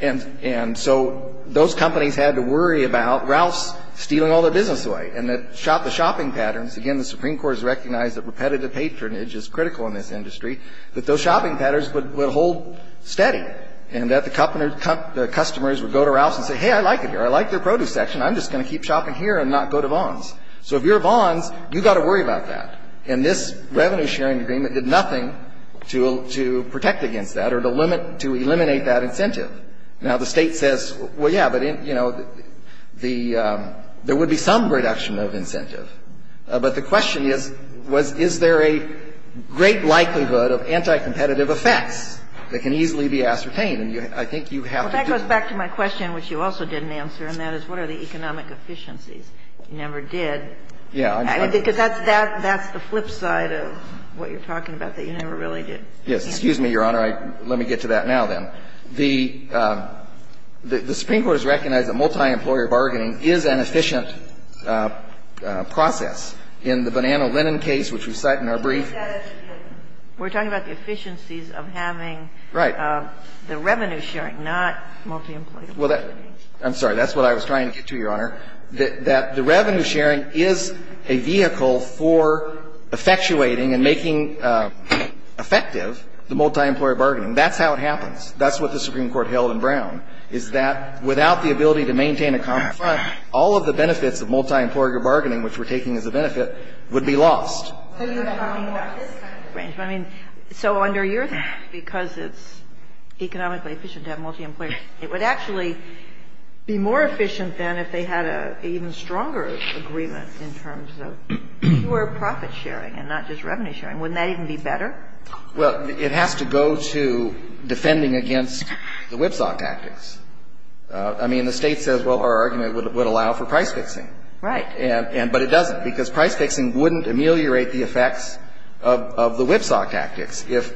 And so those companies had to worry about Ralph's stealing all their business away. And that the shopping patterns — again, the Supreme Court has recognized that repetitive patronage is critical in this industry — that those shopping patterns would hold steady and that the customers would go to Ralph's and say, hey, I like it here. I like their produce section. So if you're Vons, you've got to worry about that. And this revenue-sharing agreement did nothing to protect against that or to eliminate that incentive. Now, the State says, well, yeah, but, you know, there would be some reduction of incentive. But the question is, is there a great likelihood of anti-competitive effects that can easily be ascertained? And I think you have to do — Well, that goes back to my question, which you also didn't answer, and that is, what are the economic efficiencies? You never did. Yeah. Because that's the flip side of what you're talking about, that you never really did. Yes. Excuse me, Your Honor. Let me get to that now, then. The Supreme Court has recognized that multi-employer bargaining is an efficient process. In the banana-linen case, which we cite in our brief — We're talking about the efficiencies of having the revenue-sharing, not multi-employer bargaining. I'm sorry. That's what I was trying to get to, Your Honor. That the revenue-sharing is a vehicle for effectuating and making effective the multi-employer bargaining. That's how it happens. That's what the Supreme Court held in Brown, is that without the ability to maintain a common fund, all of the benefits of multi-employer bargaining, which we're taking as a benefit, would be lost. So you're talking about this kind of arrangement. I mean, so under your theory, because it's economically efficient to have multi-employer bargaining, it would actually be more efficient than if they had an even stronger agreement in terms of pure profit-sharing and not just revenue-sharing. Wouldn't that even be better? Well, it has to go to defending against the whipsaw tactics. I mean, the State says, well, our argument would allow for price-fixing. Right. But it doesn't, because price-fixing wouldn't ameliorate the effects of the whipsaw tactics. If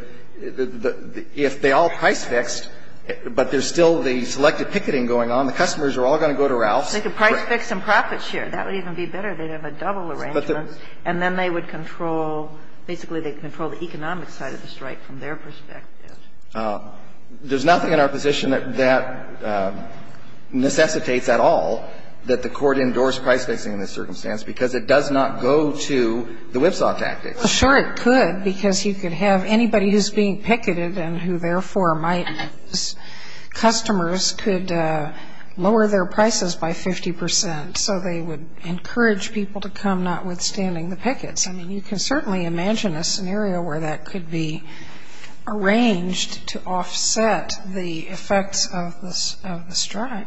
they all price-fixed, but there's still the selected picketing going on, the customers are all going to go to Ralph's. They could price-fix and profit-share. That would even be better. They'd have a double arrangement, and then they would control, basically they'd control the economic side of the strike from their perspective. There's nothing in our position that necessitates at all that the Court endorsed price-fixing in this circumstance, because it does not go to the whipsaw tactics. Well, sure it could, because you could have anybody who's being picketed and who therefore might, customers could lower their prices by 50 percent. So they would encourage people to come, notwithstanding the pickets. I mean, you can certainly imagine a scenario where that could be arranged to offset the effects of the strike.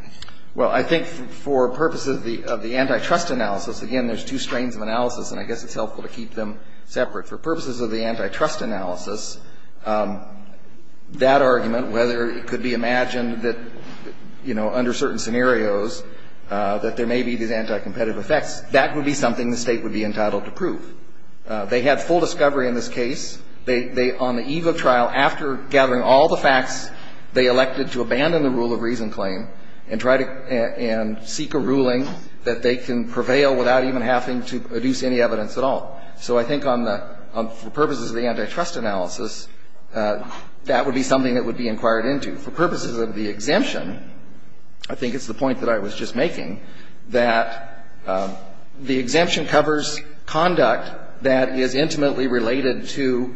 Well, I think for purposes of the antitrust analysis, again, there's two strains of separate. For purposes of the antitrust analysis, that argument, whether it could be imagined that, you know, under certain scenarios, that there may be these anticompetitive effects, that would be something the State would be entitled to prove. They had full discovery in this case. They, on the eve of trial, after gathering all the facts, they elected to abandon the rule of reason claim and try to seek a ruling that they can prevail without even having to produce any evidence at all. So I think on the purposes of the antitrust analysis, that would be something that would be inquired into. For purposes of the exemption, I think it's the point that I was just making, that the exemption covers conduct that is intimately related to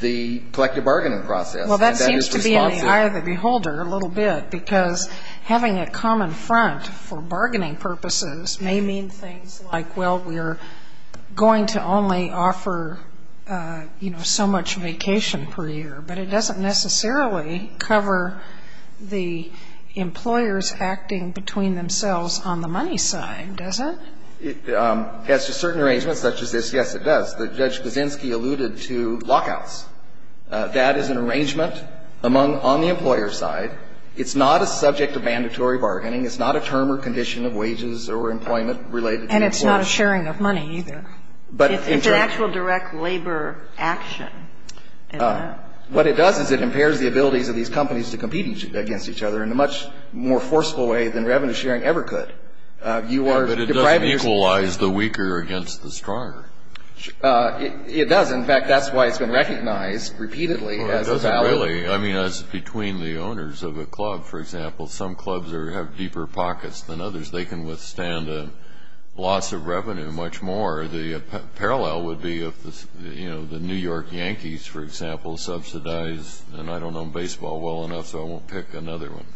the collective bargaining process. Well, that seems to be in the eye of the beholder a little bit, because having a common front for bargaining purposes may mean things like, well, we're going to only offer, you know, so much vacation per year. But it doesn't necessarily cover the employers acting between themselves on the money side, does it? As to certain arrangements such as this, yes, it does. Judge Kaczynski alluded to lockouts. That is an arrangement among the employer side. It's not a subject of mandatory bargaining. It's not a term or condition of wages or employment related to employers. And it's not a sharing of money either. It's an actual direct labor action. What it does is it impairs the abilities of these companies to compete against each other in a much more forceful way than revenue sharing ever could. But it doesn't equalize the weaker against the stronger. It does. In fact, that's why it's been recognized repeatedly as valid. Well, it doesn't really. I mean, as between the owners of a club, for example, some clubs have deeper pockets than others. They can withstand a loss of revenue much more. The parallel would be if, you know, the New York Yankees, for example, subsidize, and I don't know baseball well enough, so I won't pick another one.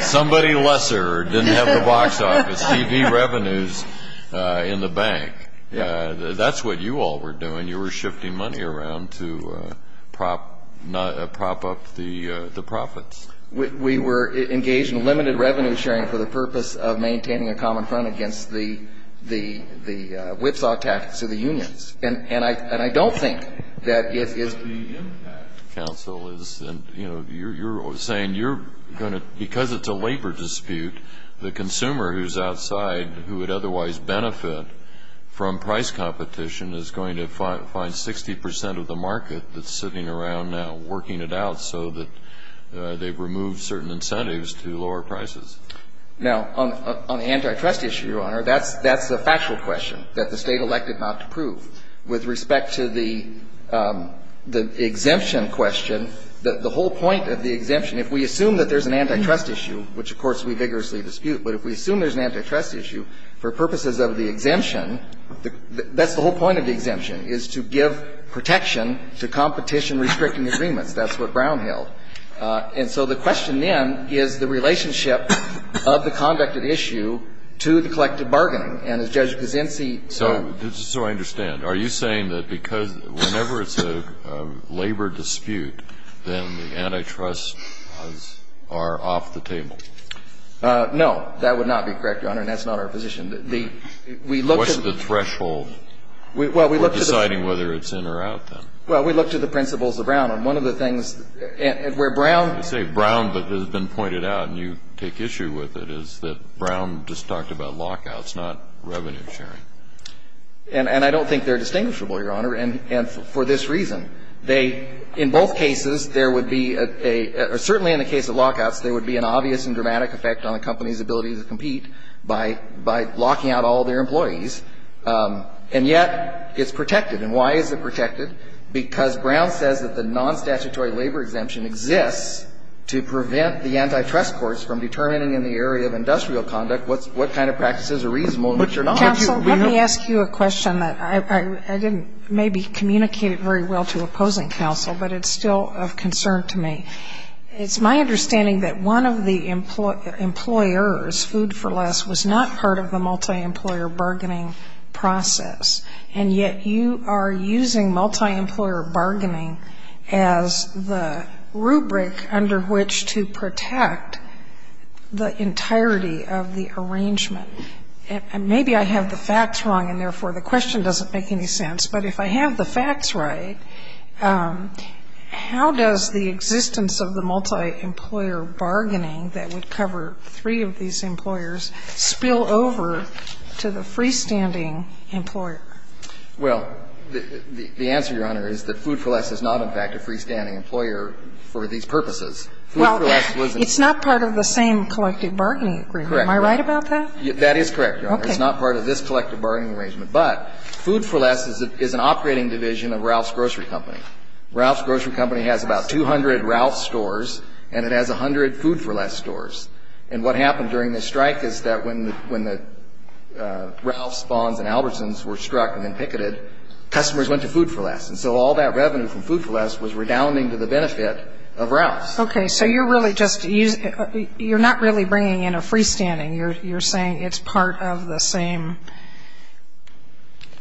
Somebody lesser didn't have the box office. He'd be revenues in the bank. That's what you all were doing. You were shifting money around to prop up the profits. We were engaged in limited revenue sharing for the purpose of maintaining a common front against the whipsaw tactics of the unions. And I don't think that it is. But the impact, counsel, is, you know, you're saying you're going to, because it's a labor dispute, the consumer who's outside who would otherwise benefit from price competition is going to find 60% of the market that's sitting around now and have removed certain incentives to lower prices. Now, on the antitrust issue, Your Honor, that's the factual question that the State elect not to prove. With respect to the exemption question, the whole point of the exemption, if we assume that there's an antitrust issue, which, of course, we vigorously dispute, but if we assume there's an antitrust issue, for purposes of the exemption, that's the whole point of the exemption, is to give protection to competition and restricting agreements. That's what Brown held. And so the question then is the relationship of the conducted issue to the collective bargaining. And as Judge Kuczynski said ---- So, just so I understand, are you saying that because whenever it's a labor dispute, then the antitrust laws are off the table? No. That would not be correct, Your Honor, and that's not our position. We look to the ---- What's the threshold for deciding whether it's in or out, then? Well, we look to the principles of Brown. And one of the things where Brown ---- You say Brown, but it has been pointed out, and you take issue with it, is that Brown just talked about lockouts, not revenue sharing. And I don't think they're distinguishable, Your Honor, and for this reason. They ---- in both cases, there would be a ---- or certainly in the case of lockouts, there would be an obvious and dramatic effect on a company's ability to compete by locking out all their employees. And yet it's protected. And why is it protected? Because Brown says that the nonstatutory labor exemption exists to prevent the antitrust courts from determining in the area of industrial conduct what kind of practices are reasonable and which are not. Counsel, let me ask you a question that I didn't maybe communicate it very well to opposing counsel, but it's still of concern to me. It's my understanding that one of the employers, Food for Less, was not part of the bargaining as the rubric under which to protect the entirety of the arrangement. And maybe I have the facts wrong, and therefore the question doesn't make any sense. But if I have the facts right, how does the existence of the multi-employer bargaining that would cover three of these employers spill over to the freestanding employer? Well, the answer, Your Honor, is that Food for Less is not, in fact, a freestanding employer for these purposes. Well, it's not part of the same collective bargaining agreement. Correct. Am I right about that? That is correct, Your Honor. Okay. It's not part of this collective bargaining arrangement. But Food for Less is an operating division of Ralph's Grocery Company. Ralph's Grocery Company has about 200 Ralph's stores, and it has 100 Food for Less stores. And what happened during the strike is that when the Ralph's, Vaughn's, and Albertson's were struck and then picketed, customers went to Food for Less. And so all that revenue from Food for Less was redounding to the benefit of Ralph's. Okay. So you're not really bringing in a freestanding. You're saying it's part of the same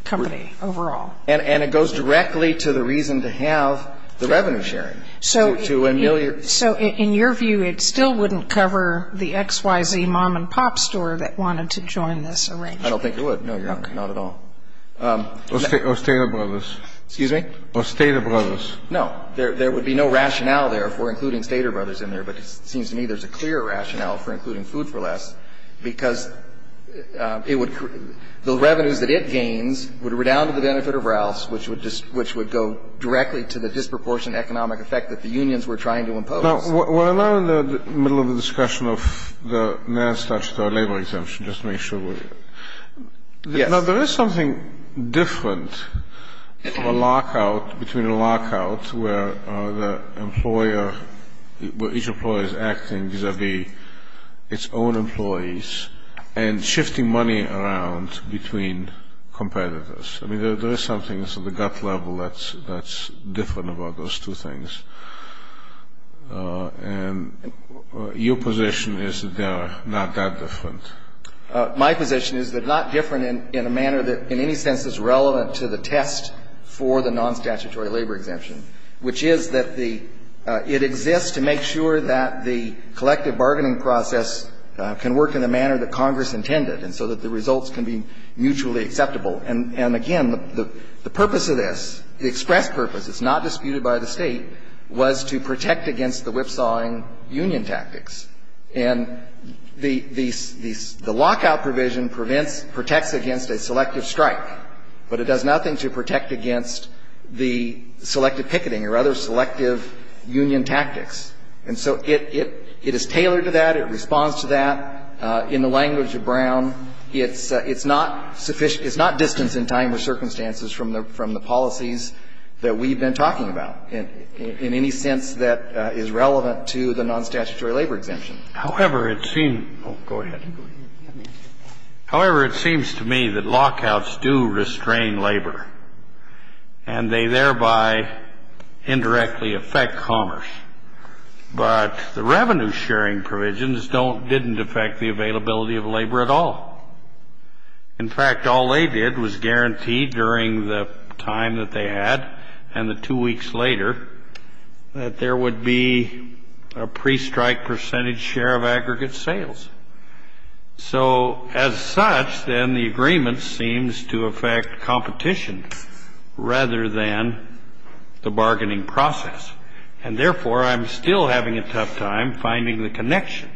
company overall. And it goes directly to the reason to have the revenue sharing to ameliorate. So in your view, it still wouldn't cover the XYZ mom-and-pop store that wanted to join this arrangement? I don't think it would, no, Your Honor. Okay. Not at all. Or Stater Brothers. Excuse me? Or Stater Brothers. No. There would be no rationale there for including Stater Brothers in there. But it seems to me there's a clear rationale for including Food for Less, because it would the revenues that it gains would redound to the benefit of Ralph's, which would go directly to the disproportionate economic effect that the unions were trying to impose. Now, we're now in the middle of the discussion of the Nance statutory labor exemption, just to make sure we're clear. Yes. Now, there is something different of a lockout between a lockout where the employer, where each employer is acting vis-à-vis its own employees and shifting money around between competitors. I mean, there is something that's on the gut level that's different about those two things. And your position is that they are not that different. My position is they're not different in a manner that in any sense is relevant to the test for the non-statutory labor exemption, which is that it exists to make sure that the collective bargaining process can work in the manner that Congress intended, and so that the results can be mutually acceptable. And, again, the purpose of this, the express purpose, it's not disputed by the State, was to protect against the whipsawing union tactics. And the lockout provision prevents, protects against a selective strike, but it does nothing to protect against the selective picketing or other selective union tactics. And so it is tailored to that. It responds to that. In the language of Brown, it's not distance in time or circumstances from the policies that we've been talking about in any sense that is relevant to the non-statutory labor exemption. However, it seems to me that lockouts do restrain labor, and they thereby indirectly affect commerce. But the revenue-sharing provisions don't, didn't affect the availability of labor at all. In fact, all they did was guarantee during the time that they had and the two weeks later that there would be a pre-strike percentage share of aggregate sales. So, as such, then the agreement seems to affect competition rather than the bargaining process. And, therefore, I'm still having a tough time finding the connection,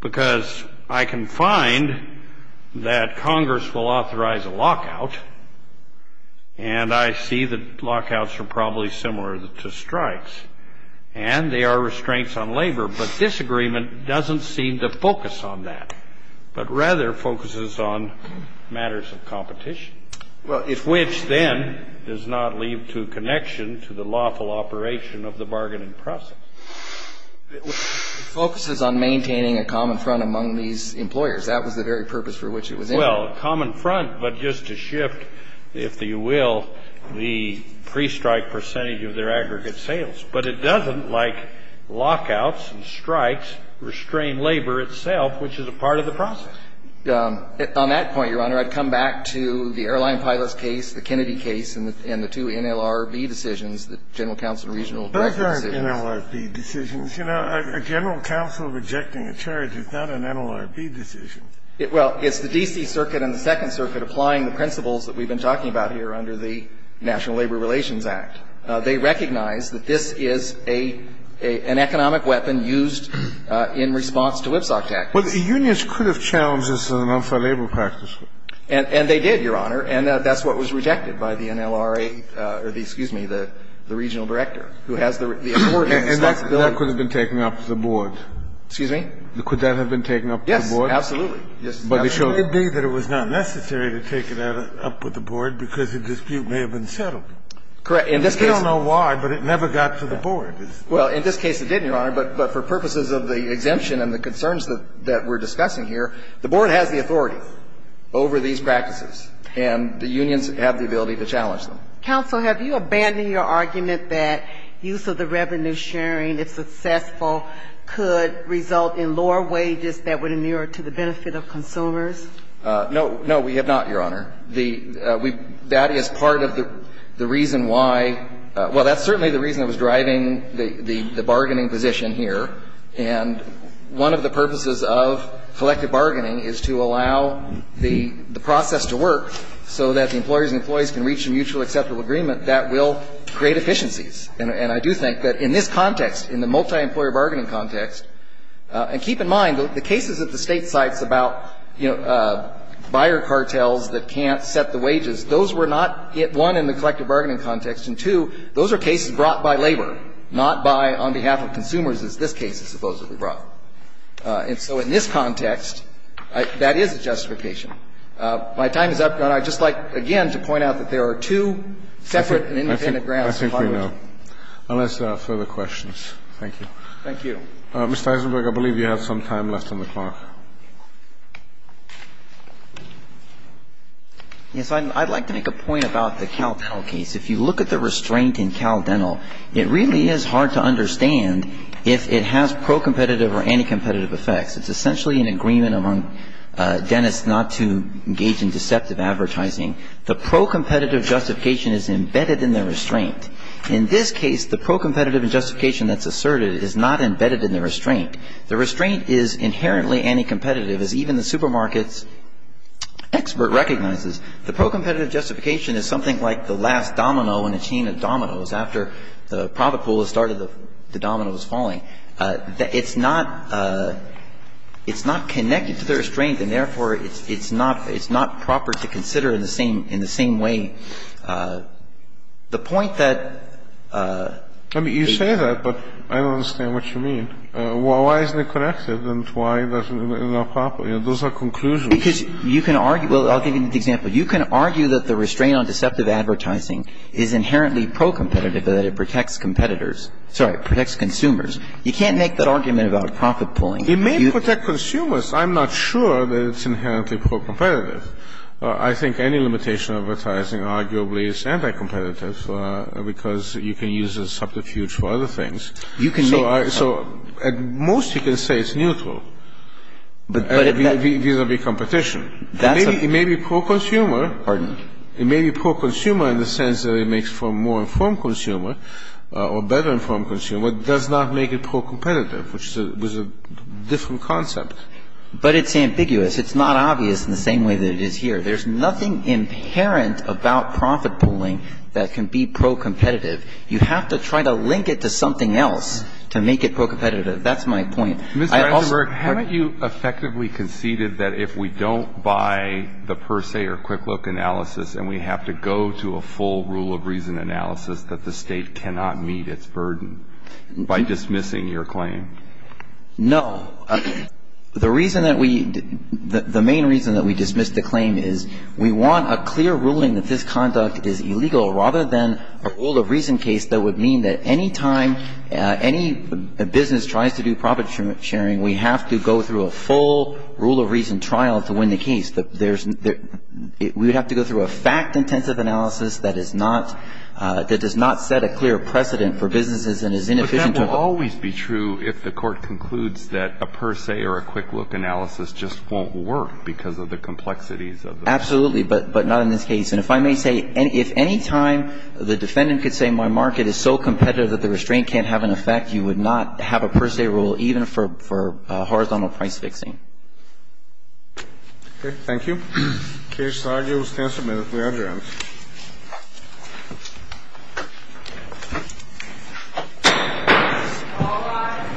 because I can find that Congress will authorize a lockout, and I see that lockouts are probably similar to But rather focuses on matters of competition, which then does not leave to connection to the lawful operation of the bargaining process. It focuses on maintaining a common front among these employers. That was the very purpose for which it was intended. Well, common front, but just to shift, if you will, the pre-strike percentage of their is a part of the process. On that point, Your Honor, I'd come back to the airline pilot's case, the Kennedy case, and the two NLRB decisions, the General Counsel Regional Directive decisions. Those aren't NLRB decisions. You know, a general counsel rejecting a charge is not an NLRB decision. Well, it's the D.C. Circuit and the Second Circuit applying the principles that we've been talking about here under the National Labor Relations Act. They recognize that this is an economic weapon used in response to WIPSOC tactics. Well, the unions could have challenged this in an unfair labor practice. And they did, Your Honor. And that's what was rejected by the NLRA or the, excuse me, the regional director, who has the authority. And that could have been taken up with the board. Excuse me? Could that have been taken up with the board? Yes, absolutely. Yes, absolutely. But it could be that it was not necessary to take it up with the board because the dispute may have been settled. We don't know why, but it never got to the board. Well, in this case it did, Your Honor. But for purposes of the exemption and the concerns that we're discussing here, the board has the authority over these practices. And the unions have the ability to challenge them. Counsel, have you abandoned your argument that use of the revenue sharing, if successful, could result in lower wages that would inure to the benefit of consumers? No. No, we have not, Your Honor. That is part of the reason why. Well, that's certainly the reason that was driving the bargaining position here. And one of the purposes of collective bargaining is to allow the process to work so that the employers and employees can reach a mutually acceptable agreement that will create efficiencies. And I do think that in this context, in the multi-employer bargaining context, and keep in mind, the cases at the State sites about, you know, buyer cartels that can't set the wages, those were not, one, in the collective bargaining context, and, two, those are cases brought by labor, not by on behalf of consumers as this case is supposedly brought. And so in this context, that is a justification. My time is up, Your Honor. I'd just like, again, to point out that there are two separate and independent grounds. I think we know. Unless there are further questions. Thank you. Thank you. Mr. Eisenberg, I believe you have some time left on the clock. Yes. I'd like to make a point about the CalDental case. If you look at the restraint in CalDental, it really is hard to understand if it has pro-competitive or anti-competitive effects. It's essentially an agreement among dentists not to engage in deceptive advertising. The pro-competitive justification is embedded in the restraint. In this case, the pro-competitive justification that's asserted is not embedded in the restraint. The restraint is inherently anti-competitive, as even the supermarket's expert recognizes. The pro-competitive justification is something like the last domino in a chain of dominoes after the profitable has started the dominoes falling. It's not connected to the restraint, and, therefore, it's not proper to consider in the same way. The point that the ---- I mean, you say that, but I don't understand what you mean. Why isn't it connected and why isn't it proper? Those are conclusions. Because you can argue ñ well, I'll give you an example. You can argue that the restraint on deceptive advertising is inherently pro-competitive and that it protects competitors. Sorry, it protects consumers. You can't make that argument about profit-pulling. It may protect consumers. I'm not sure that it's inherently pro-competitive. Well, I think any limitation of advertising arguably is anti-competitive because you can use it as subterfuge for other things. You can make that argument. So at most you can say it's neutral. But it may ñ These will be competition. That's a ñ It may be pro-consumer. Pardon? It may be pro-consumer in the sense that it makes for a more informed consumer or better informed consumer. It does not make it pro-competitive, which is a different concept. But it's ambiguous. It's not obvious in the same way that it is here. There's nothing inherent about profit-pulling that can be pro-competitive. You have to try to link it to something else to make it pro-competitive. That's my point. Mr. Rosenberg, haven't you effectively conceded that if we don't buy the per se or quick-look analysis and we have to go to a full rule of reason analysis, that the State cannot meet its burden by dismissing your claim? No. The reason that we ñ the main reason that we dismiss the claim is we want a clear ruling that this conduct is illegal rather than a rule of reason case that would mean that any time any business tries to do profit-sharing, we have to go through a full rule of reason trial to win the case. There's ñ we would have to go through a fact-intensive analysis that is not ñ that does not set a clear precedent for businesses and is inefficient to ñ But wouldn't it always be true if the Court concludes that a per se or a quick-look analysis just won't work because of the complexities of the ñ Absolutely, but not in this case. And if I may say, if any time the defendant could say my market is so competitive that the restraint can't have an effect, you would not have a per se rule even for horizontal price-fixing. Okay. Thank you. Thank you. Thank you. Thank you.